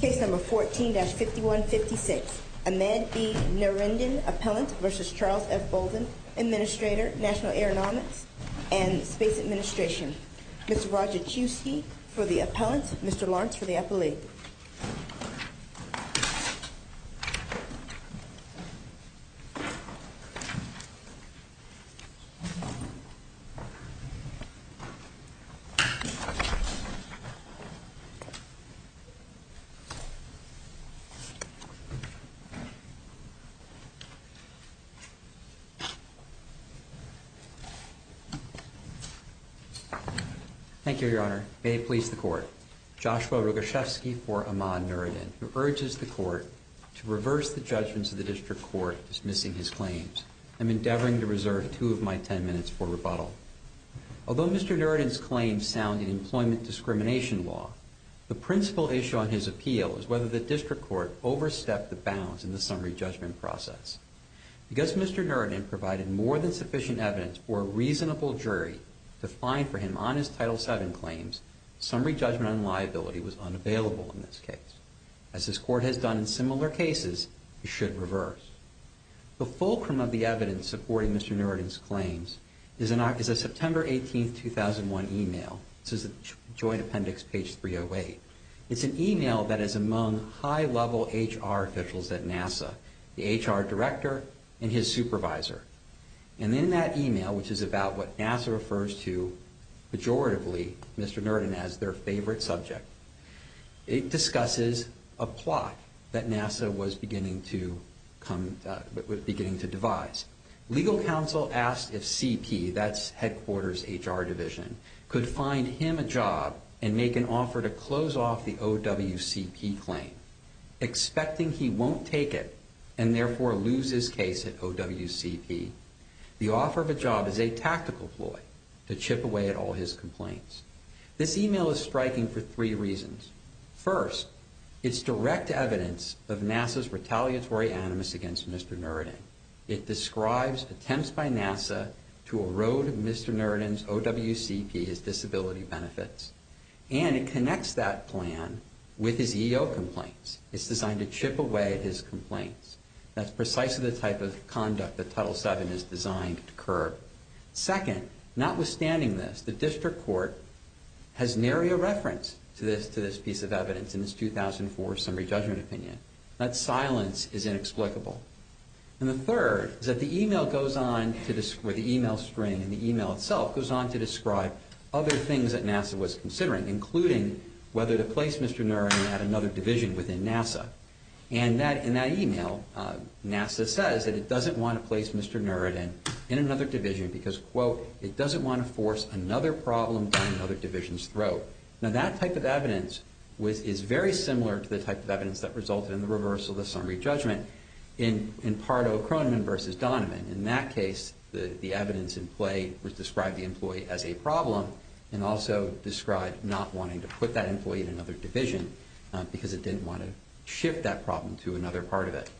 Case number 14-5156. Ahmed B. Nurriddin, Appellant v. Charles F. Bolden, Administrator, National Aeronautics and Space Administration. Mr. Roger Chewsky for the Appellant, Mr. Lawrence for the Appellee. Thank you, Your Honor. May it please the Court. Joshua Roger Chewsky for Ahmad Nurriddin, who urges the Court to reverse the judgments of the District Court dismissing his claims. I'm endeavoring to reserve two of my ten minutes for rebuttal. Although Mr. Nurriddin's claims sound in employment discrimination law, the principal issue on his appeal is whether the District Court overstepped the bounds in the summary judgment process. Because Mr. Nurriddin provided more than sufficient evidence for a reasonable jury to find for him on his Title VII claims, summary judgment on liability was unavailable in this case. As this Court has done in similar cases, it should reverse. The fulcrum of the evidence supporting Mr. Nurriddin's claims is a September 18, 2001, email. This is Joint Appendix, page 308. It's an email that is among high-level HR officials at NASA, the HR director and his supervisor. And in that email, which is about what NASA refers to pejoratively, Mr. Nurriddin, as their favorite subject, it discusses a plot that NASA was beginning to devise. Legal counsel asked if CP, that's headquarters HR division, could find him a job and make an offer to close off the OWCP claim, expecting he won't take it and therefore lose his case at OWCP. The offer of a job is a tactical ploy to chip away at all his complaints. This email is striking for three reasons. First, it's direct evidence of NASA's retaliatory animus against Mr. Nurriddin. It describes attempts by NASA to erode Mr. Nurriddin's OWCP, his disability benefits. And it connects that plan with his EO complaints. It's designed to chip away at his complaints. That's precisely the type of conduct that Title VII is designed to curb. Second, notwithstanding this, the district court has nary a reference to this piece of evidence in its 2004 summary judgment opinion. That silence is inexplicable. And the third is that the email goes on, or the email string in the email itself goes on to describe other things that NASA was considering, including whether to place Mr. Nurriddin at another division within NASA. And in that email, NASA says that it doesn't want to place Mr. Nurriddin in another division because, quote, it doesn't want to force another problem down another division's throat. Now, that type of evidence is very similar to the type of evidence that resulted in the reversal of the summary judgment in Pardo-Croneman v. Donovan. In that case, the evidence in play would describe the employee as a problem and also describe not wanting to put that employee in another division because it didn't want to shift that problem to another part of it.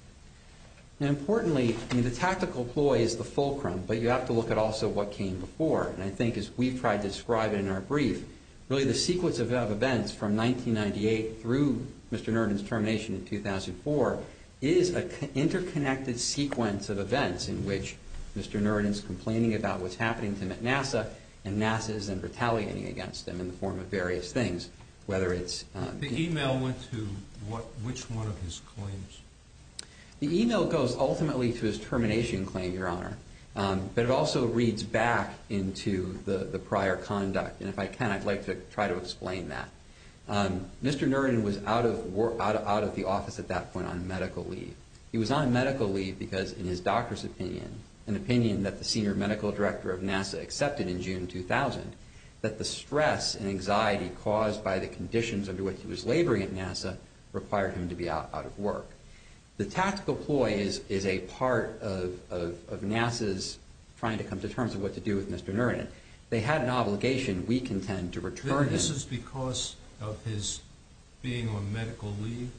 Importantly, the tactical ploy is the fulcrum, but you have to look at also what came before. And I think as we've tried to describe it in our brief, really the sequence of events from 1998 through Mr. Nurriddin's termination in 2004 is an interconnected sequence of events in which Mr. Nurriddin is complaining about what's happening to him at NASA, and NASA is then retaliating against him in the form of various things, whether it's— The email went to which one of his claims? The email goes ultimately to his termination claim, Your Honor, but it also reads back into the prior conduct. And if I can, I'd like to try to explain that. Mr. Nurriddin was out of the office at that point on medical leave. He was on medical leave because in his doctor's opinion, an opinion that the senior medical director of NASA accepted in June 2000, that the stress and anxiety caused by the conditions under which he was laboring at NASA required him to be out of work. The tactical ploy is a part of NASA's trying to come to terms with what to do with Mr. Nurriddin. They had an obligation, we contend, to return him— This is because of his being on medical leave?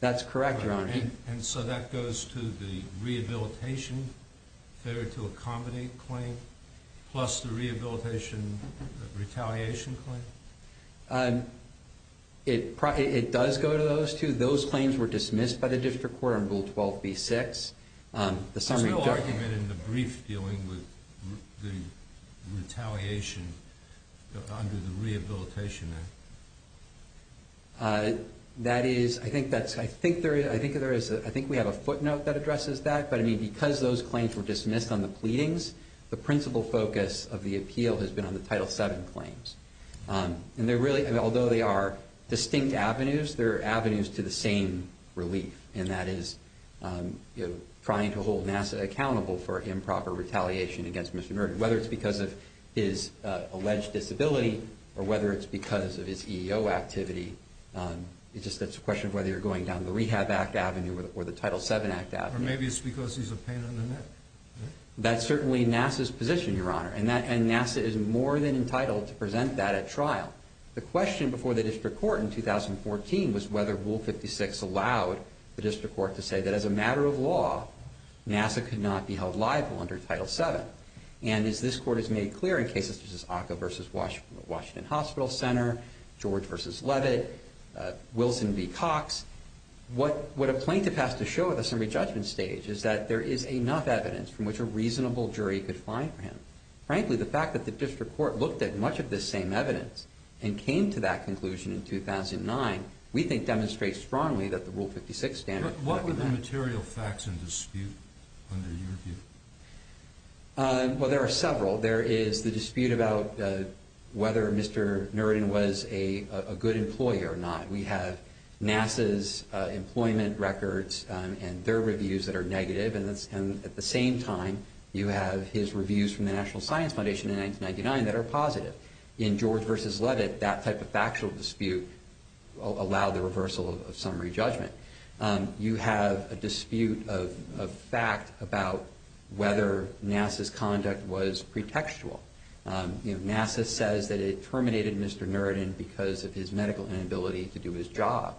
That's correct, Your Honor. And so that goes to the rehabilitation, failure to accommodate claim, plus the rehabilitation retaliation claim? It does go to those two. Those claims were dismissed by the district court on Rule 12b-6. There's no argument in the brief dealing with the retaliation under the Rehabilitation Act? That is—I think there is. I think we have a footnote that addresses that, but because those claims were dismissed on the pleadings, the principal focus of the appeal has been on the Title VII claims. Although they are distinct avenues, they're avenues to the same relief, and that is trying to hold NASA accountable for improper retaliation against Mr. Nurriddin, whether it's because of his alleged disability or whether it's because of his EEO activity. It's just a question of whether you're going down the Rehab Act Avenue or the Title VII Act Avenue. Or maybe it's because he's a pain in the neck. That's certainly NASA's position, Your Honor, and NASA is more than entitled to present that at trial. The question before the district court in 2014 was whether Rule 56 allowed the district court to say that as a matter of law, NASA could not be held liable under Title VII. And as this Court has made clear in cases such as Oka v. Washington Hospital Center, George v. Levitt, Wilson v. Cox, what a plaintiff has to show at the summary judgment stage is that there is enough evidence from which a reasonable jury could find him. Frankly, the fact that the district court looked at much of this same evidence and came to that conclusion in 2009 we think demonstrates strongly that the Rule 56 standard What were the material facts in dispute under your view? Well, there are several. There is the dispute about whether Mr. Nurriddin was a good employee or not. We have NASA's employment records and their reviews that are negative. And at the same time, you have his reviews from the National Science Foundation in 1999 that are positive. In George v. Levitt, that type of factual dispute allowed the reversal of summary judgment. You have a dispute of fact about whether NASA's conduct was pretextual. NASA says that it terminated Mr. Nurriddin because of his medical inability to do his job.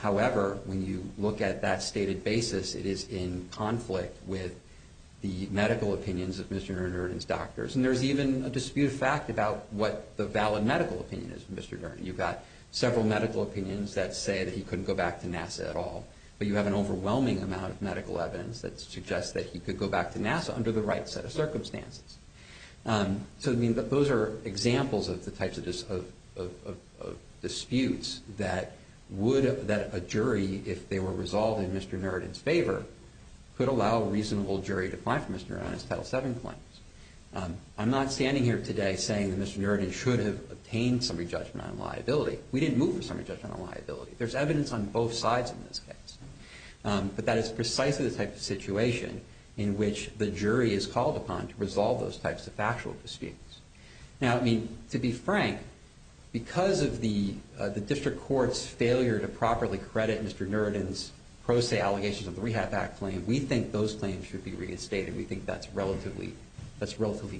However, when you look at that stated basis, it is in conflict with the medical opinions of Mr. Nurriddin's doctors. And there's even a dispute of fact about what the valid medical opinion is of Mr. Nurriddin. You've got several medical opinions that say that he couldn't go back to NASA at all. But you have an overwhelming amount of medical evidence that suggests that he could go back to NASA under the right set of circumstances. So those are examples of the types of disputes that a jury, if they were resolved in Mr. Nurriddin's favor, could allow a reasonable jury to find for Mr. Nurriddin's Title VII claims. I'm not standing here today saying that Mr. Nurriddin should have obtained summary judgment on liability. We didn't move for summary judgment on liability. There's evidence on both sides in this case. But that is precisely the type of situation in which the jury is called upon to resolve those types of factual disputes. Now, I mean, to be frank, because of the district court's failure to properly credit Mr. Nurriddin's pro se allegations of the Rehab Act claim, we think those claims should be reinstated. We think that's a relatively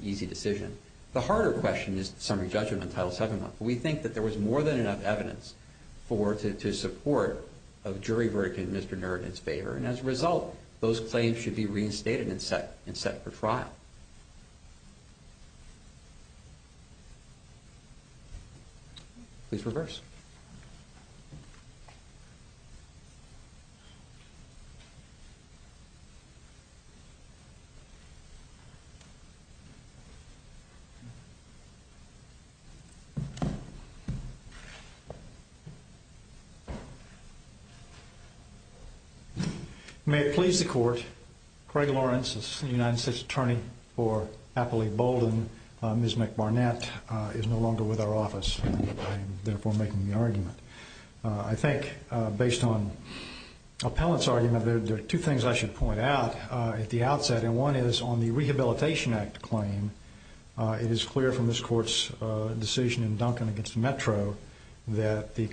easy decision. The harder question is the summary judgment on Title VII. We think that there was more than enough evidence to support a jury verdict in Mr. Nurriddin's favor. And as a result, those claims should be reinstated and set for trial. Please reverse. May it please the Court. Craig Lawrence is the United States Attorney for Appley-Bolden. Ms. McBarnett is no longer with our office. I am, therefore, making the argument. I think, based on Appellant's argument, there are two things I should point out at the outset. And one is, on the Rehabilitation Act claim, it is clear from this Court's decision in Dumfries that the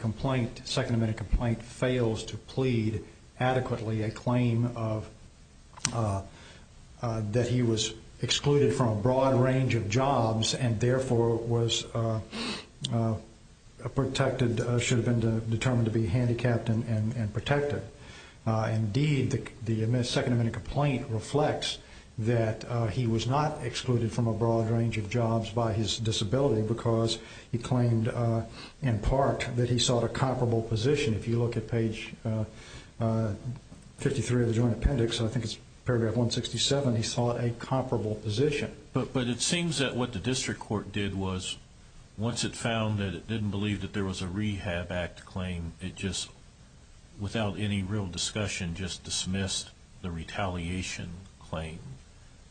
Second Amendment complaint fails to plead adequately a claim that he was excluded from a broad range of jobs and, therefore, should have been determined to be handicapped and protected. Indeed, the Second Amendment complaint reflects that he was not excluded from a broad range of jobs by his disability because he claimed, in part, that he sought a comparable position. If you look at page 53 of the Joint Appendix, and I think it's paragraph 167, he sought a comparable position. But it seems that what the District Court did was, once it found that it didn't believe that there was a Rehab Act claim, it just, without any real discussion, just dismissed the retaliation claim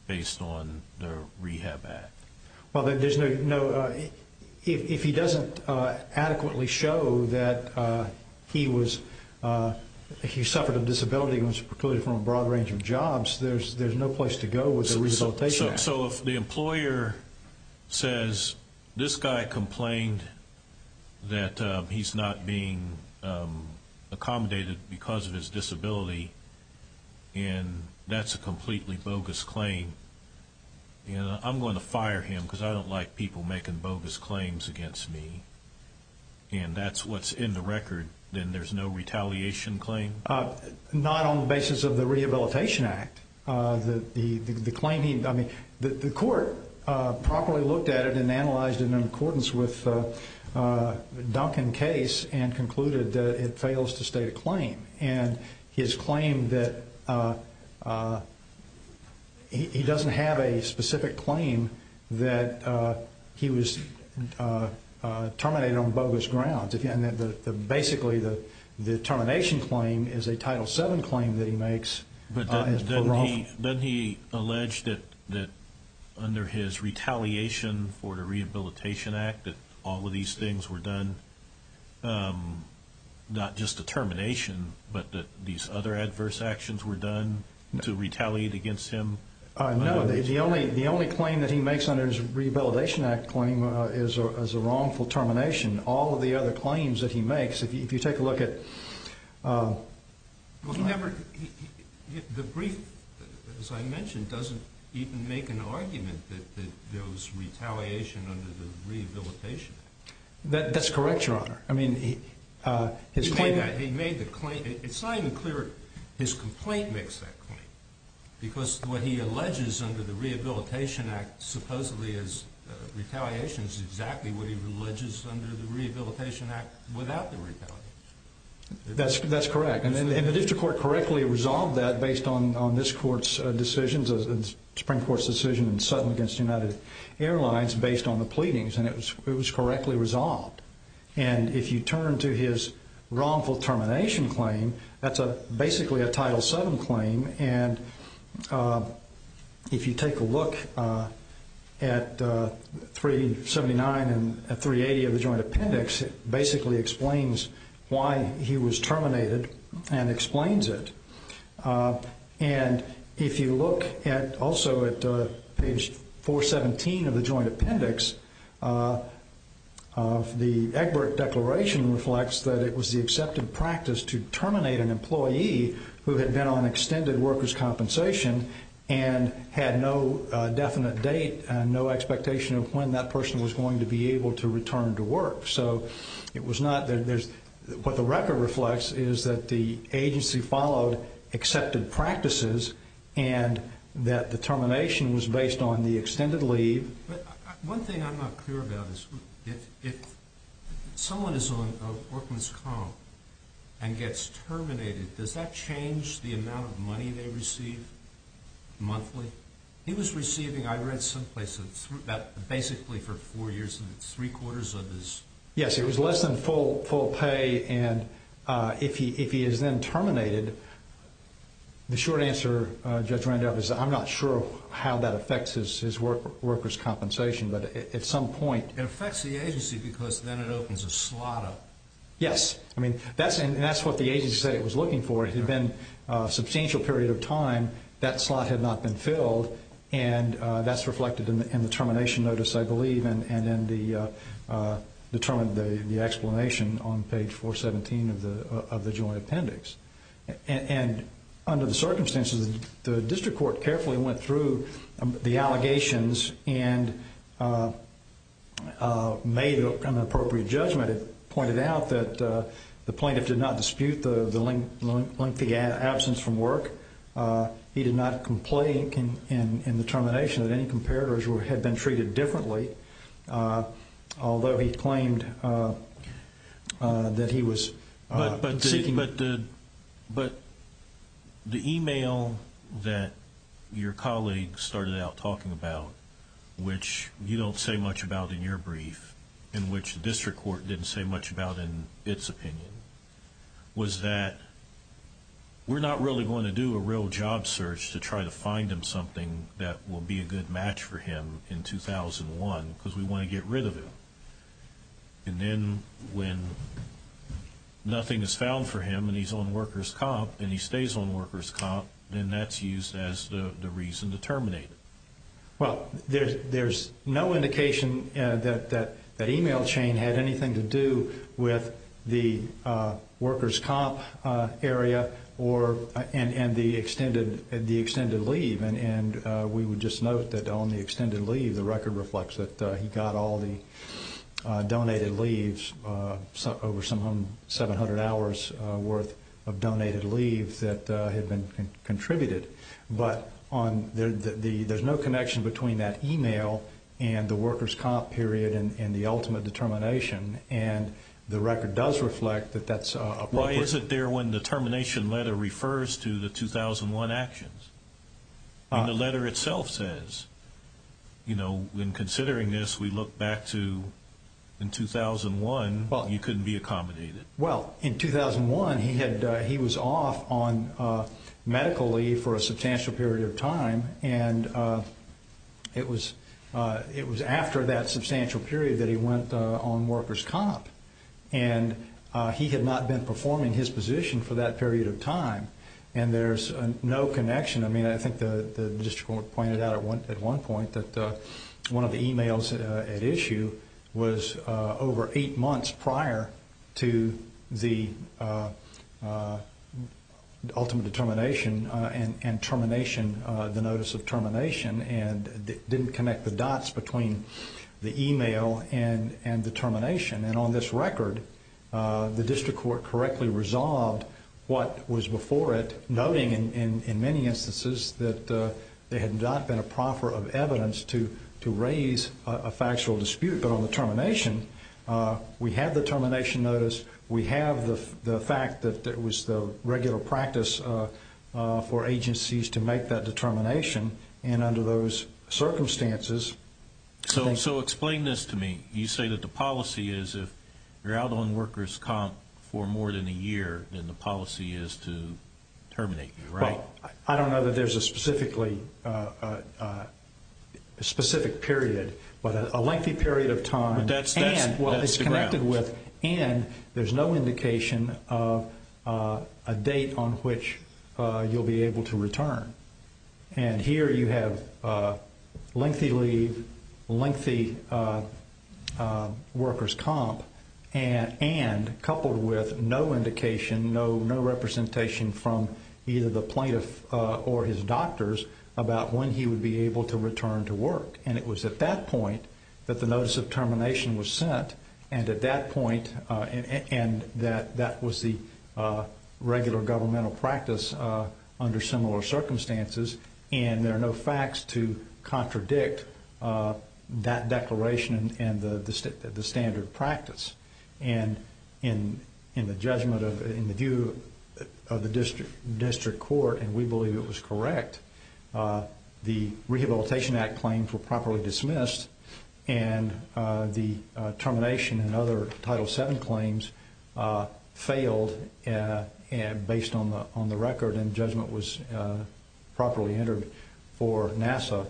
based on the Rehab Act. Well, then, if he doesn't adequately show that he suffered a disability and was excluded from a broad range of jobs, there's no place to go with the Rehabilitation Act. So if the employer says, this guy complained that he's not being accommodated because of his disability, and that's a completely bogus claim, and I'm going to fire him because I don't like people making bogus claims against me, and that's what's in the record, then there's no retaliation claim? Not on the basis of the Rehabilitation Act. The claim he, I mean, the Court properly looked at it and analyzed it in accordance with Duncan's case and concluded that it fails to state a claim. And his claim that he doesn't have a specific claim that he was terminated on bogus grounds. Basically, the termination claim is a Title VII claim that he makes. But doesn't he allege that under his retaliation for the Rehabilitation Act that all of these things were done, not just the termination, but that these other adverse actions were done to retaliate against him? No, the only claim that he makes under his Rehabilitation Act claim is a wrongful termination. All of the other claims that he makes, if you take a look at... Well, he never, the brief, as I mentioned, doesn't even make an argument that there was retaliation under the Rehabilitation Act. That's correct, Your Honor. I mean, his claim... He made the claim, it's not even clear his complaint makes that claim, because what he alleges under the Rehabilitation Act supposedly is retaliation is exactly what he alleges under the Rehabilitation Act without the retaliation. That's correct. And the district court correctly resolved that based on this court's decisions, the Supreme Court's decision in Sutton against United Airlines, based on the pleadings. And it was correctly resolved. And if you turn to his wrongful termination claim, that's basically a Title VII claim. And if you take a look at 379 and 380 of the Joint Appendix, it basically explains why he was terminated and explains it. And if you look also at page 417 of the Joint Appendix, the Egbert Declaration reflects that it was the accepted practice to terminate an employee who had been on extended workers' compensation and had no definite date and no expectation of when that person was going to be able to return to work. So it was not that there's... What the record reflects is that the agency followed accepted practices and that the termination was based on the extended leave. One thing I'm not clear about is if someone is on a workman's comp and gets terminated, does that change the amount of money they receive monthly? He was receiving, I read someplace, basically for four years, three-quarters of his... Yes, it was less than full pay. And if he is then terminated, the short answer, Judge Randolph, is I'm not sure how that affects his workers' compensation, but at some point... It affects the agency because then it opens a slot up. Yes. I mean, that's what the agency said it was looking for. It had been a substantial period of time. That slot had not been filled, and that's reflected in the termination notice, I believe, and in the explanation on page 417 of the Joint Appendix. And under the circumstances, the district court carefully went through the allegations and made an appropriate judgment. I pointed out that the plaintiff did not dispute the lengthy absence from work. He did not complain in the termination that any comparators had been treated differently, although he claimed that he was seeking... But the email that your colleague started out talking about, which you don't say much about in your brief and which the district court didn't say much about in its opinion, was that we're not really going to do a real job search to try to find him something that will be a good match for him in 2001 because we want to get rid of him. And then when nothing is found for him and he's on workers' comp and he stays on workers' comp, then that's used as the reason to terminate him. Well, there's no indication that that email chain had anything to do with the workers' comp area and the extended leave. And we would just note that on the extended leave, the record reflects that he got all the donated leaves, over some 700 hours' worth of donated leave that had been contributed. But there's no connection between that email and the workers' comp period and the ultimate determination, and the record does reflect that that's appropriate. Why is it there when the termination letter refers to the 2001 actions? The letter itself says, in considering this, we look back to in 2001, he couldn't be accommodated. Well, in 2001, he was off on medical leave for a substantial period of time, and it was after that substantial period that he went on workers' comp. And he had not been performing his position for that period of time, and there's no connection. I mean, I think the district court pointed out at one point that one of the emails at issue was over eight months prior to the ultimate determination and termination, the notice of termination, and didn't connect the dots between the email and the termination. And on this record, the district court correctly resolved what was before it, noting in many instances that there had not been a proffer of evidence to raise a factual dispute. But on the termination, we have the termination notice, we have the fact that it was the regular practice for agencies to make that determination, and under those circumstances. So explain this to me. You say that the policy is if you're out on workers' comp for more than a year, then the policy is to terminate you, right? Well, I don't know that there's a specific period, but a lengthy period of time. And what it's connected with, and there's no indication of a date on which you'll be able to return. And here you have lengthy leave, lengthy workers' comp, and coupled with no indication, no representation from either the plaintiff or his doctors about when he would be able to return to work. And it was at that point that the notice of termination was sent, and at that point that was the regular governmental practice under similar circumstances, and there are no facts to contradict that declaration and the standard practice. And in the judgment of the district court, and we believe it was correct, the Rehabilitation Act claims were properly dismissed, and the termination and other Title VII claims failed based on the record, and judgment was properly entered for NASA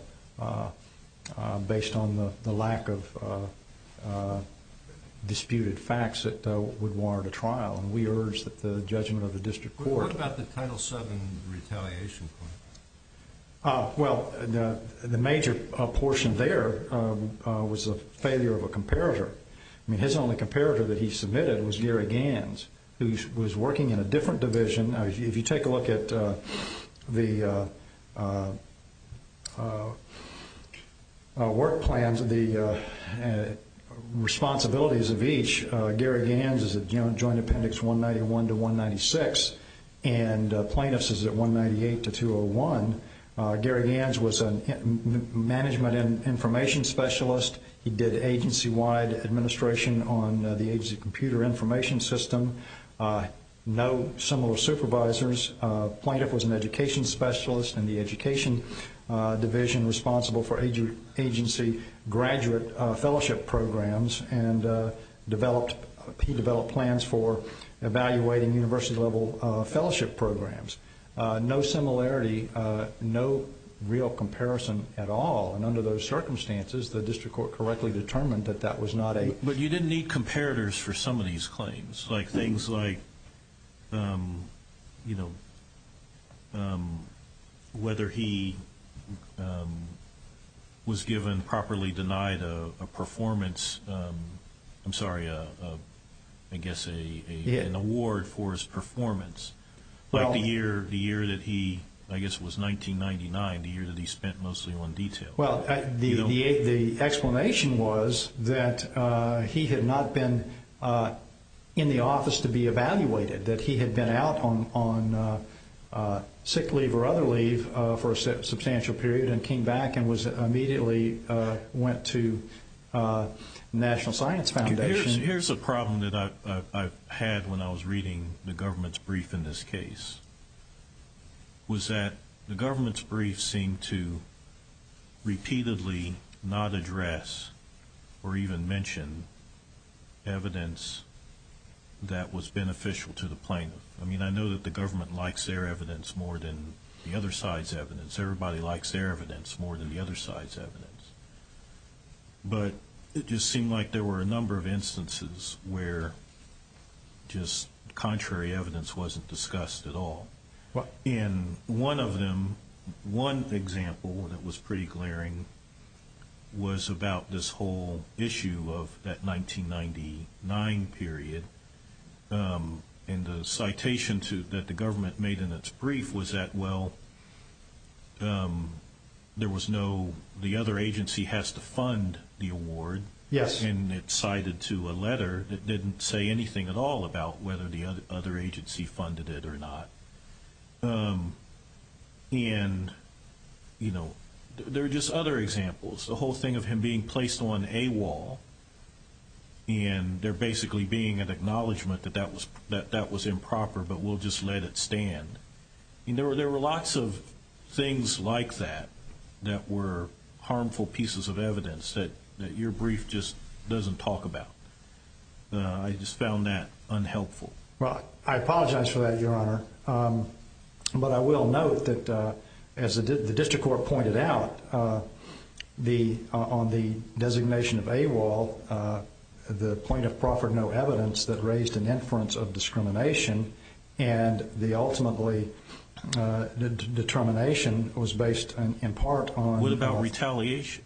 based on the lack of disputed facts that would warrant a trial, and we urge that the judgment of the district court. What about the Title VII retaliation claim? Well, the major portion there was a failure of a comparator. I mean, his only comparator that he submitted was Gary Gans, who was working in a different division. If you take a look at the work plans, the responsibilities of each, Gary Gans is at Joint Appendix 191 to 196, and plaintiffs is at 198 to 201. Gary Gans was a management and information specialist. He did agency-wide administration on the agency computer information system. No similar supervisors. Plaintiff was an education specialist in the education division responsible for agency graduate fellowship programs, and he developed plans for evaluating university-level fellowship programs. No similarity, no real comparison at all. And under those circumstances, the district court correctly determined that that was not a But you didn't need comparators for some of these claims. Things like whether he was given, properly denied, a performance. I'm sorry, I guess an award for his performance. Like the year that he, I guess it was 1999, the year that he spent mostly on detail. Well, the explanation was that he had not been in the office to be evaluated, that he had been out on sick leave or other leave for a substantial period and came back and immediately went to National Science Foundation. Here's a problem that I had when I was reading the government's brief in this case, was that the government's brief seemed to repeatedly not address or even mention evidence that was beneficial to the plaintiff. I mean, I know that the government likes their evidence more than the other side's evidence. Everybody likes their evidence more than the other side's evidence. But it just seemed like there were a number of instances where just contrary evidence wasn't discussed at all. And one of them, one example that was pretty glaring, was about this whole issue of that 1999 period. And the citation that the government made in its brief was that, well, there was no, the other agency has to fund the award. Yes. And it cited to a letter that didn't say anything at all about whether the other agency funded it or not. And, you know, there are just other examples. The whole thing of him being placed on a wall and there basically being an acknowledgment that that was improper, but we'll just let it stand. There were lots of things like that that were harmful pieces of evidence that your brief just doesn't talk about. I just found that unhelpful. Well, I apologize for that, Your Honor. But I will note that, as the district court pointed out, on the designation of AWOL, the plaintiff proffered no evidence that raised an inference of discrimination, and the ultimately determination was based in part on the fact that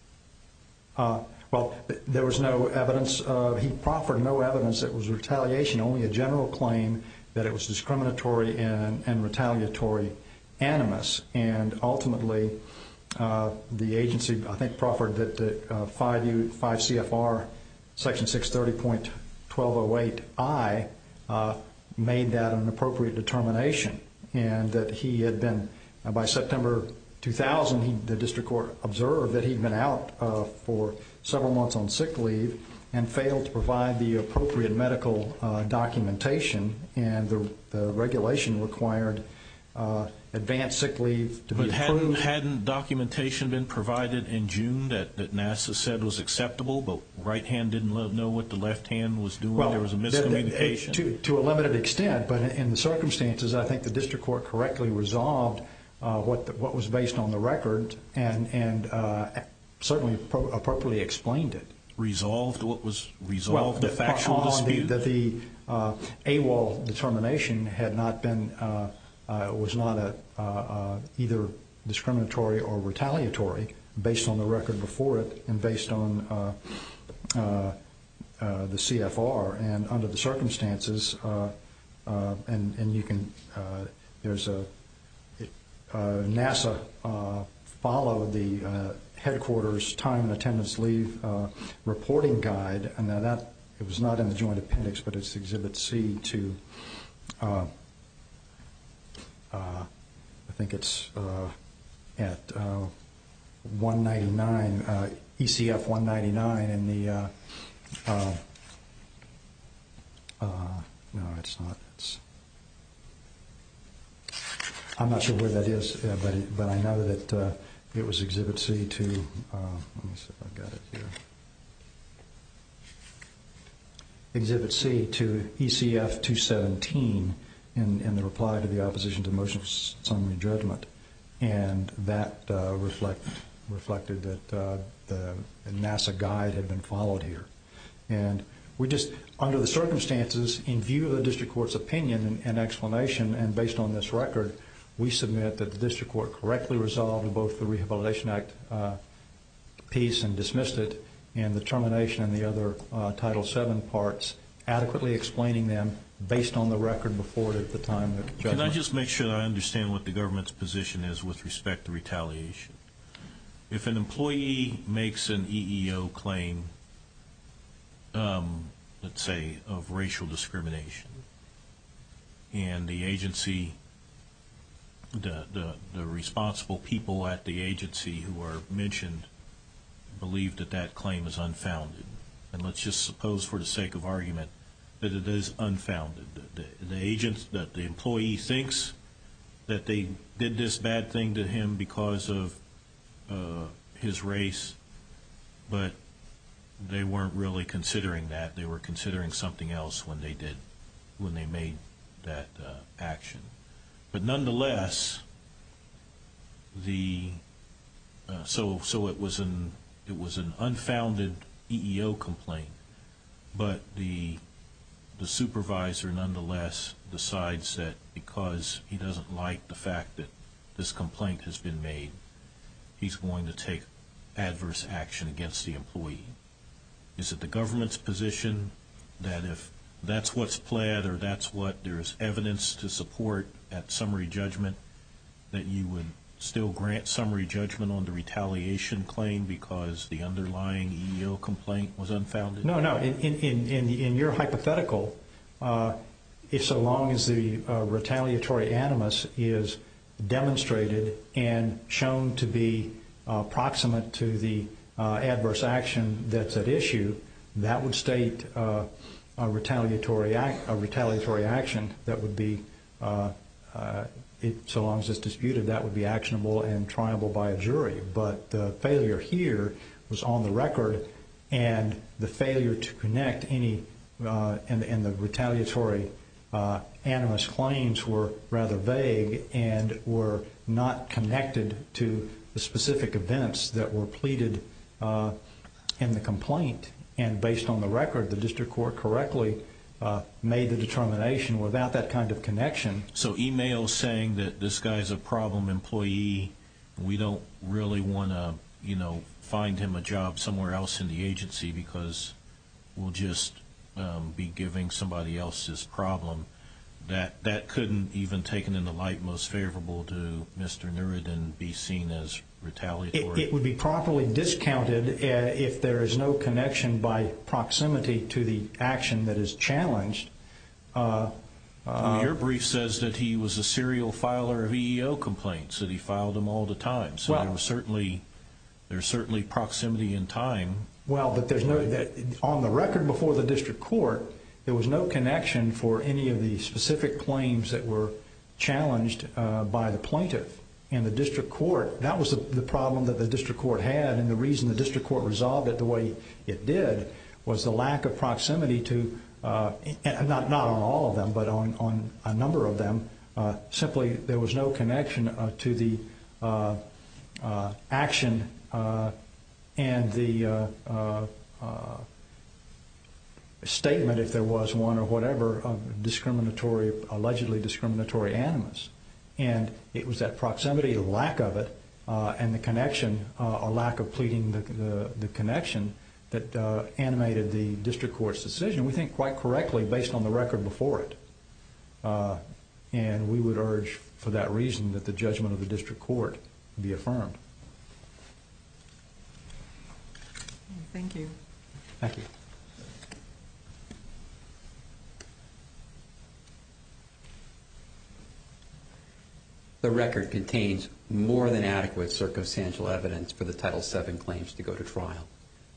Well, there was no evidence. He proffered no evidence that was retaliation, only a general claim that it was discriminatory and retaliatory animus. And ultimately, the agency, I think, proffered that 5 CFR Section 630.1208I made that an appropriate determination and that he had been, by September 2000, the district court observed that he'd been out for several months on sick leave and failed to provide the appropriate medical documentation, and the regulation required advanced sick leave to be approved. But hadn't documentation been provided in June that NASA said was acceptable, but right hand didn't know what the left hand was doing? There was a miscommunication. Well, to a limited extent, but in the circumstances, I think the district court correctly resolved what was based on the record and certainly appropriately explained it. Resolved the factual dispute? The AWOL determination was not either discriminatory or retaliatory based on the record before it and based on the CFR. And under the circumstances, NASA followed the headquarters time and attendance leave reporting guide. Now that was not in the joint appendix, but it's Exhibit C to, I think it's at 199, ECF-199 in the, no, it's not. I'm not sure where that is, but I know that it was Exhibit C to, let me see if I've got it here. Exhibit C to ECF-217 in the reply to the opposition to motion of summary judgment, and that reflected that the NASA guide had been followed here. And we just, under the circumstances, in view of the district court's opinion and explanation and based on this record, we submit that the district court correctly resolved both the Rehabilitation Act piece and dismissed it and the termination and the other Title VII parts, adequately explaining them based on the record before it at the time. Can I just make sure I understand what the government's position is with respect to retaliation? If an employee makes an EEO claim, let's say, of racial discrimination, and the agency, the responsible people at the agency who are mentioned believe that that claim is unfounded, and let's just suppose for the sake of argument that it is unfounded, that the employee thinks that they did this bad thing to him because of his race, but they weren't really considering that. They were considering something else when they made that action. But nonetheless, so it was an unfounded EEO complaint, but the supervisor nonetheless decides that because he doesn't like the fact that this complaint has been made, he's going to take adverse action against the employee. Is it the government's position that if that's what's pled or that's what there's evidence to support at summary judgment, that you would still grant summary judgment on the retaliation claim because the underlying EEO complaint was unfounded? No, no. In your hypothetical, if so long as the retaliatory animus is demonstrated and shown to be proximate to the adverse action that's at issue, that would state a retaliatory action that would be, so long as it's disputed, that would be actionable and triable by a jury. But the failure here was on the record, and the failure to connect any in the retaliatory animus claims were rather vague and were not connected to the specific events that were pleaded in the complaint. And based on the record, the district court correctly made the determination without that kind of connection. So email saying that this guy's a problem employee, we don't really want to, you know, find him a job somewhere else in the agency because we'll just be giving somebody else's problem, that couldn't even taken in the light most favorable to Mr. Neurid and be seen as retaliatory? It would be properly discounted if there is no connection by proximity to the action that is challenged. Your brief says that he was a serial filer of EEO complaints, that he filed them all the time, so there's certainly proximity in time. Well, but there's no, on the record before the district court, there was no connection for any of the specific claims that were challenged by the plaintiff. And the district court, that was the problem that the district court had, and the reason the district court resolved it the way it did was the lack of proximity to, not on all of them, but on a number of them, simply there was no connection to the action and the statement, if there was one or whatever, of discriminatory, allegedly discriminatory animus. And it was that proximity, lack of it, and the connection, a lack of pleading the connection that animated the district court's decision. And we think quite correctly based on the record before it, and we would urge for that reason that the judgment of the district court be affirmed. Thank you. Thank you. The record contains more than adequate circumstantial evidence for the Title VII claims to go to trial.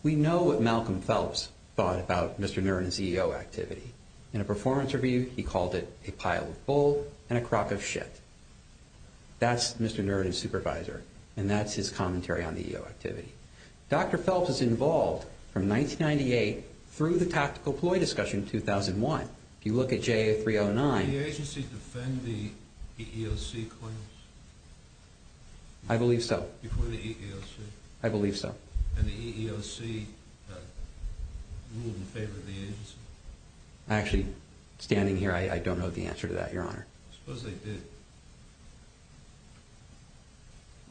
We know what Malcolm Phelps thought about Mr. Niren's EEO activity. In a performance review, he called it a pile of bull and a crock of shit. That's Mr. Niren's supervisor, and that's his commentary on the EEO activity. Dr. Phelps was involved from 1998 through the tactical ploy discussion in 2001. If you look at JA309. Did the agency defend the EEOC claims? I believe so. Before the EEOC? I believe so. And the EEOC ruled in favor of the agency? Actually, standing here, I don't know the answer to that, Your Honor. I suppose they did.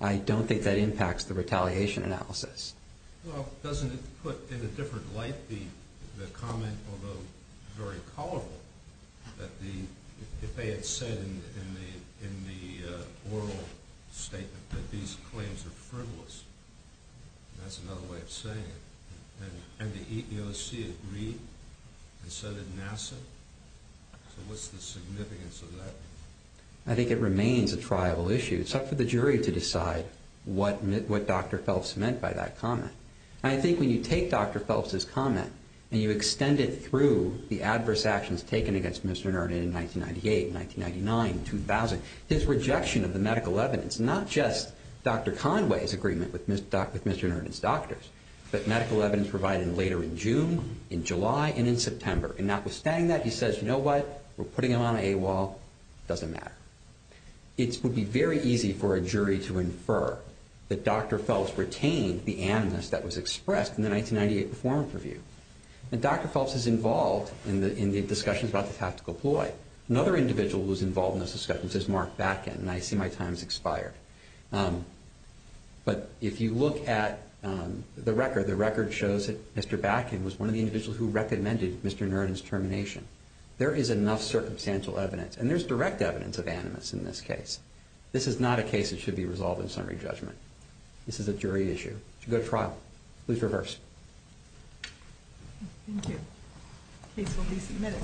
I don't think that impacts the retaliation analysis. Well, doesn't it put in a different light the comment, although very colorful, that if they had said in the oral statement that these claims are frivolous, that's another way of saying it. And the EEOC agreed and said it NASA? So what's the significance of that? I think it remains a triable issue. It's up for the jury to decide what Dr. Phelps meant by that comment. I think when you take Dr. Phelps' comment and you extend it through the adverse actions taken against Mr. Nernan in 1998, 1999, 2000, his rejection of the medical evidence, not just Dr. Conway's agreement with Mr. Nernan's doctors, but medical evidence provided later in June, in July, and in September. And notwithstanding that, he says, you know what? We're putting him on a wall. It doesn't matter. It would be very easy for a jury to infer that Dr. Phelps retained the animus that was expressed in the 1998 performance review. And Dr. Phelps is involved in the discussions about the tactical ploy. Another individual who was involved in those discussions is Mark Batkin, and I see my time has expired. But if you look at the record, the record shows that Mr. Batkin was one of the individuals who recommended Mr. Nernan's termination. There is enough circumstantial evidence, and there's direct evidence of animus in this case. This is not a case that should be resolved in summary judgment. This is a jury issue. It should go to trial. Please reverse. Thank you. The case will be submitted.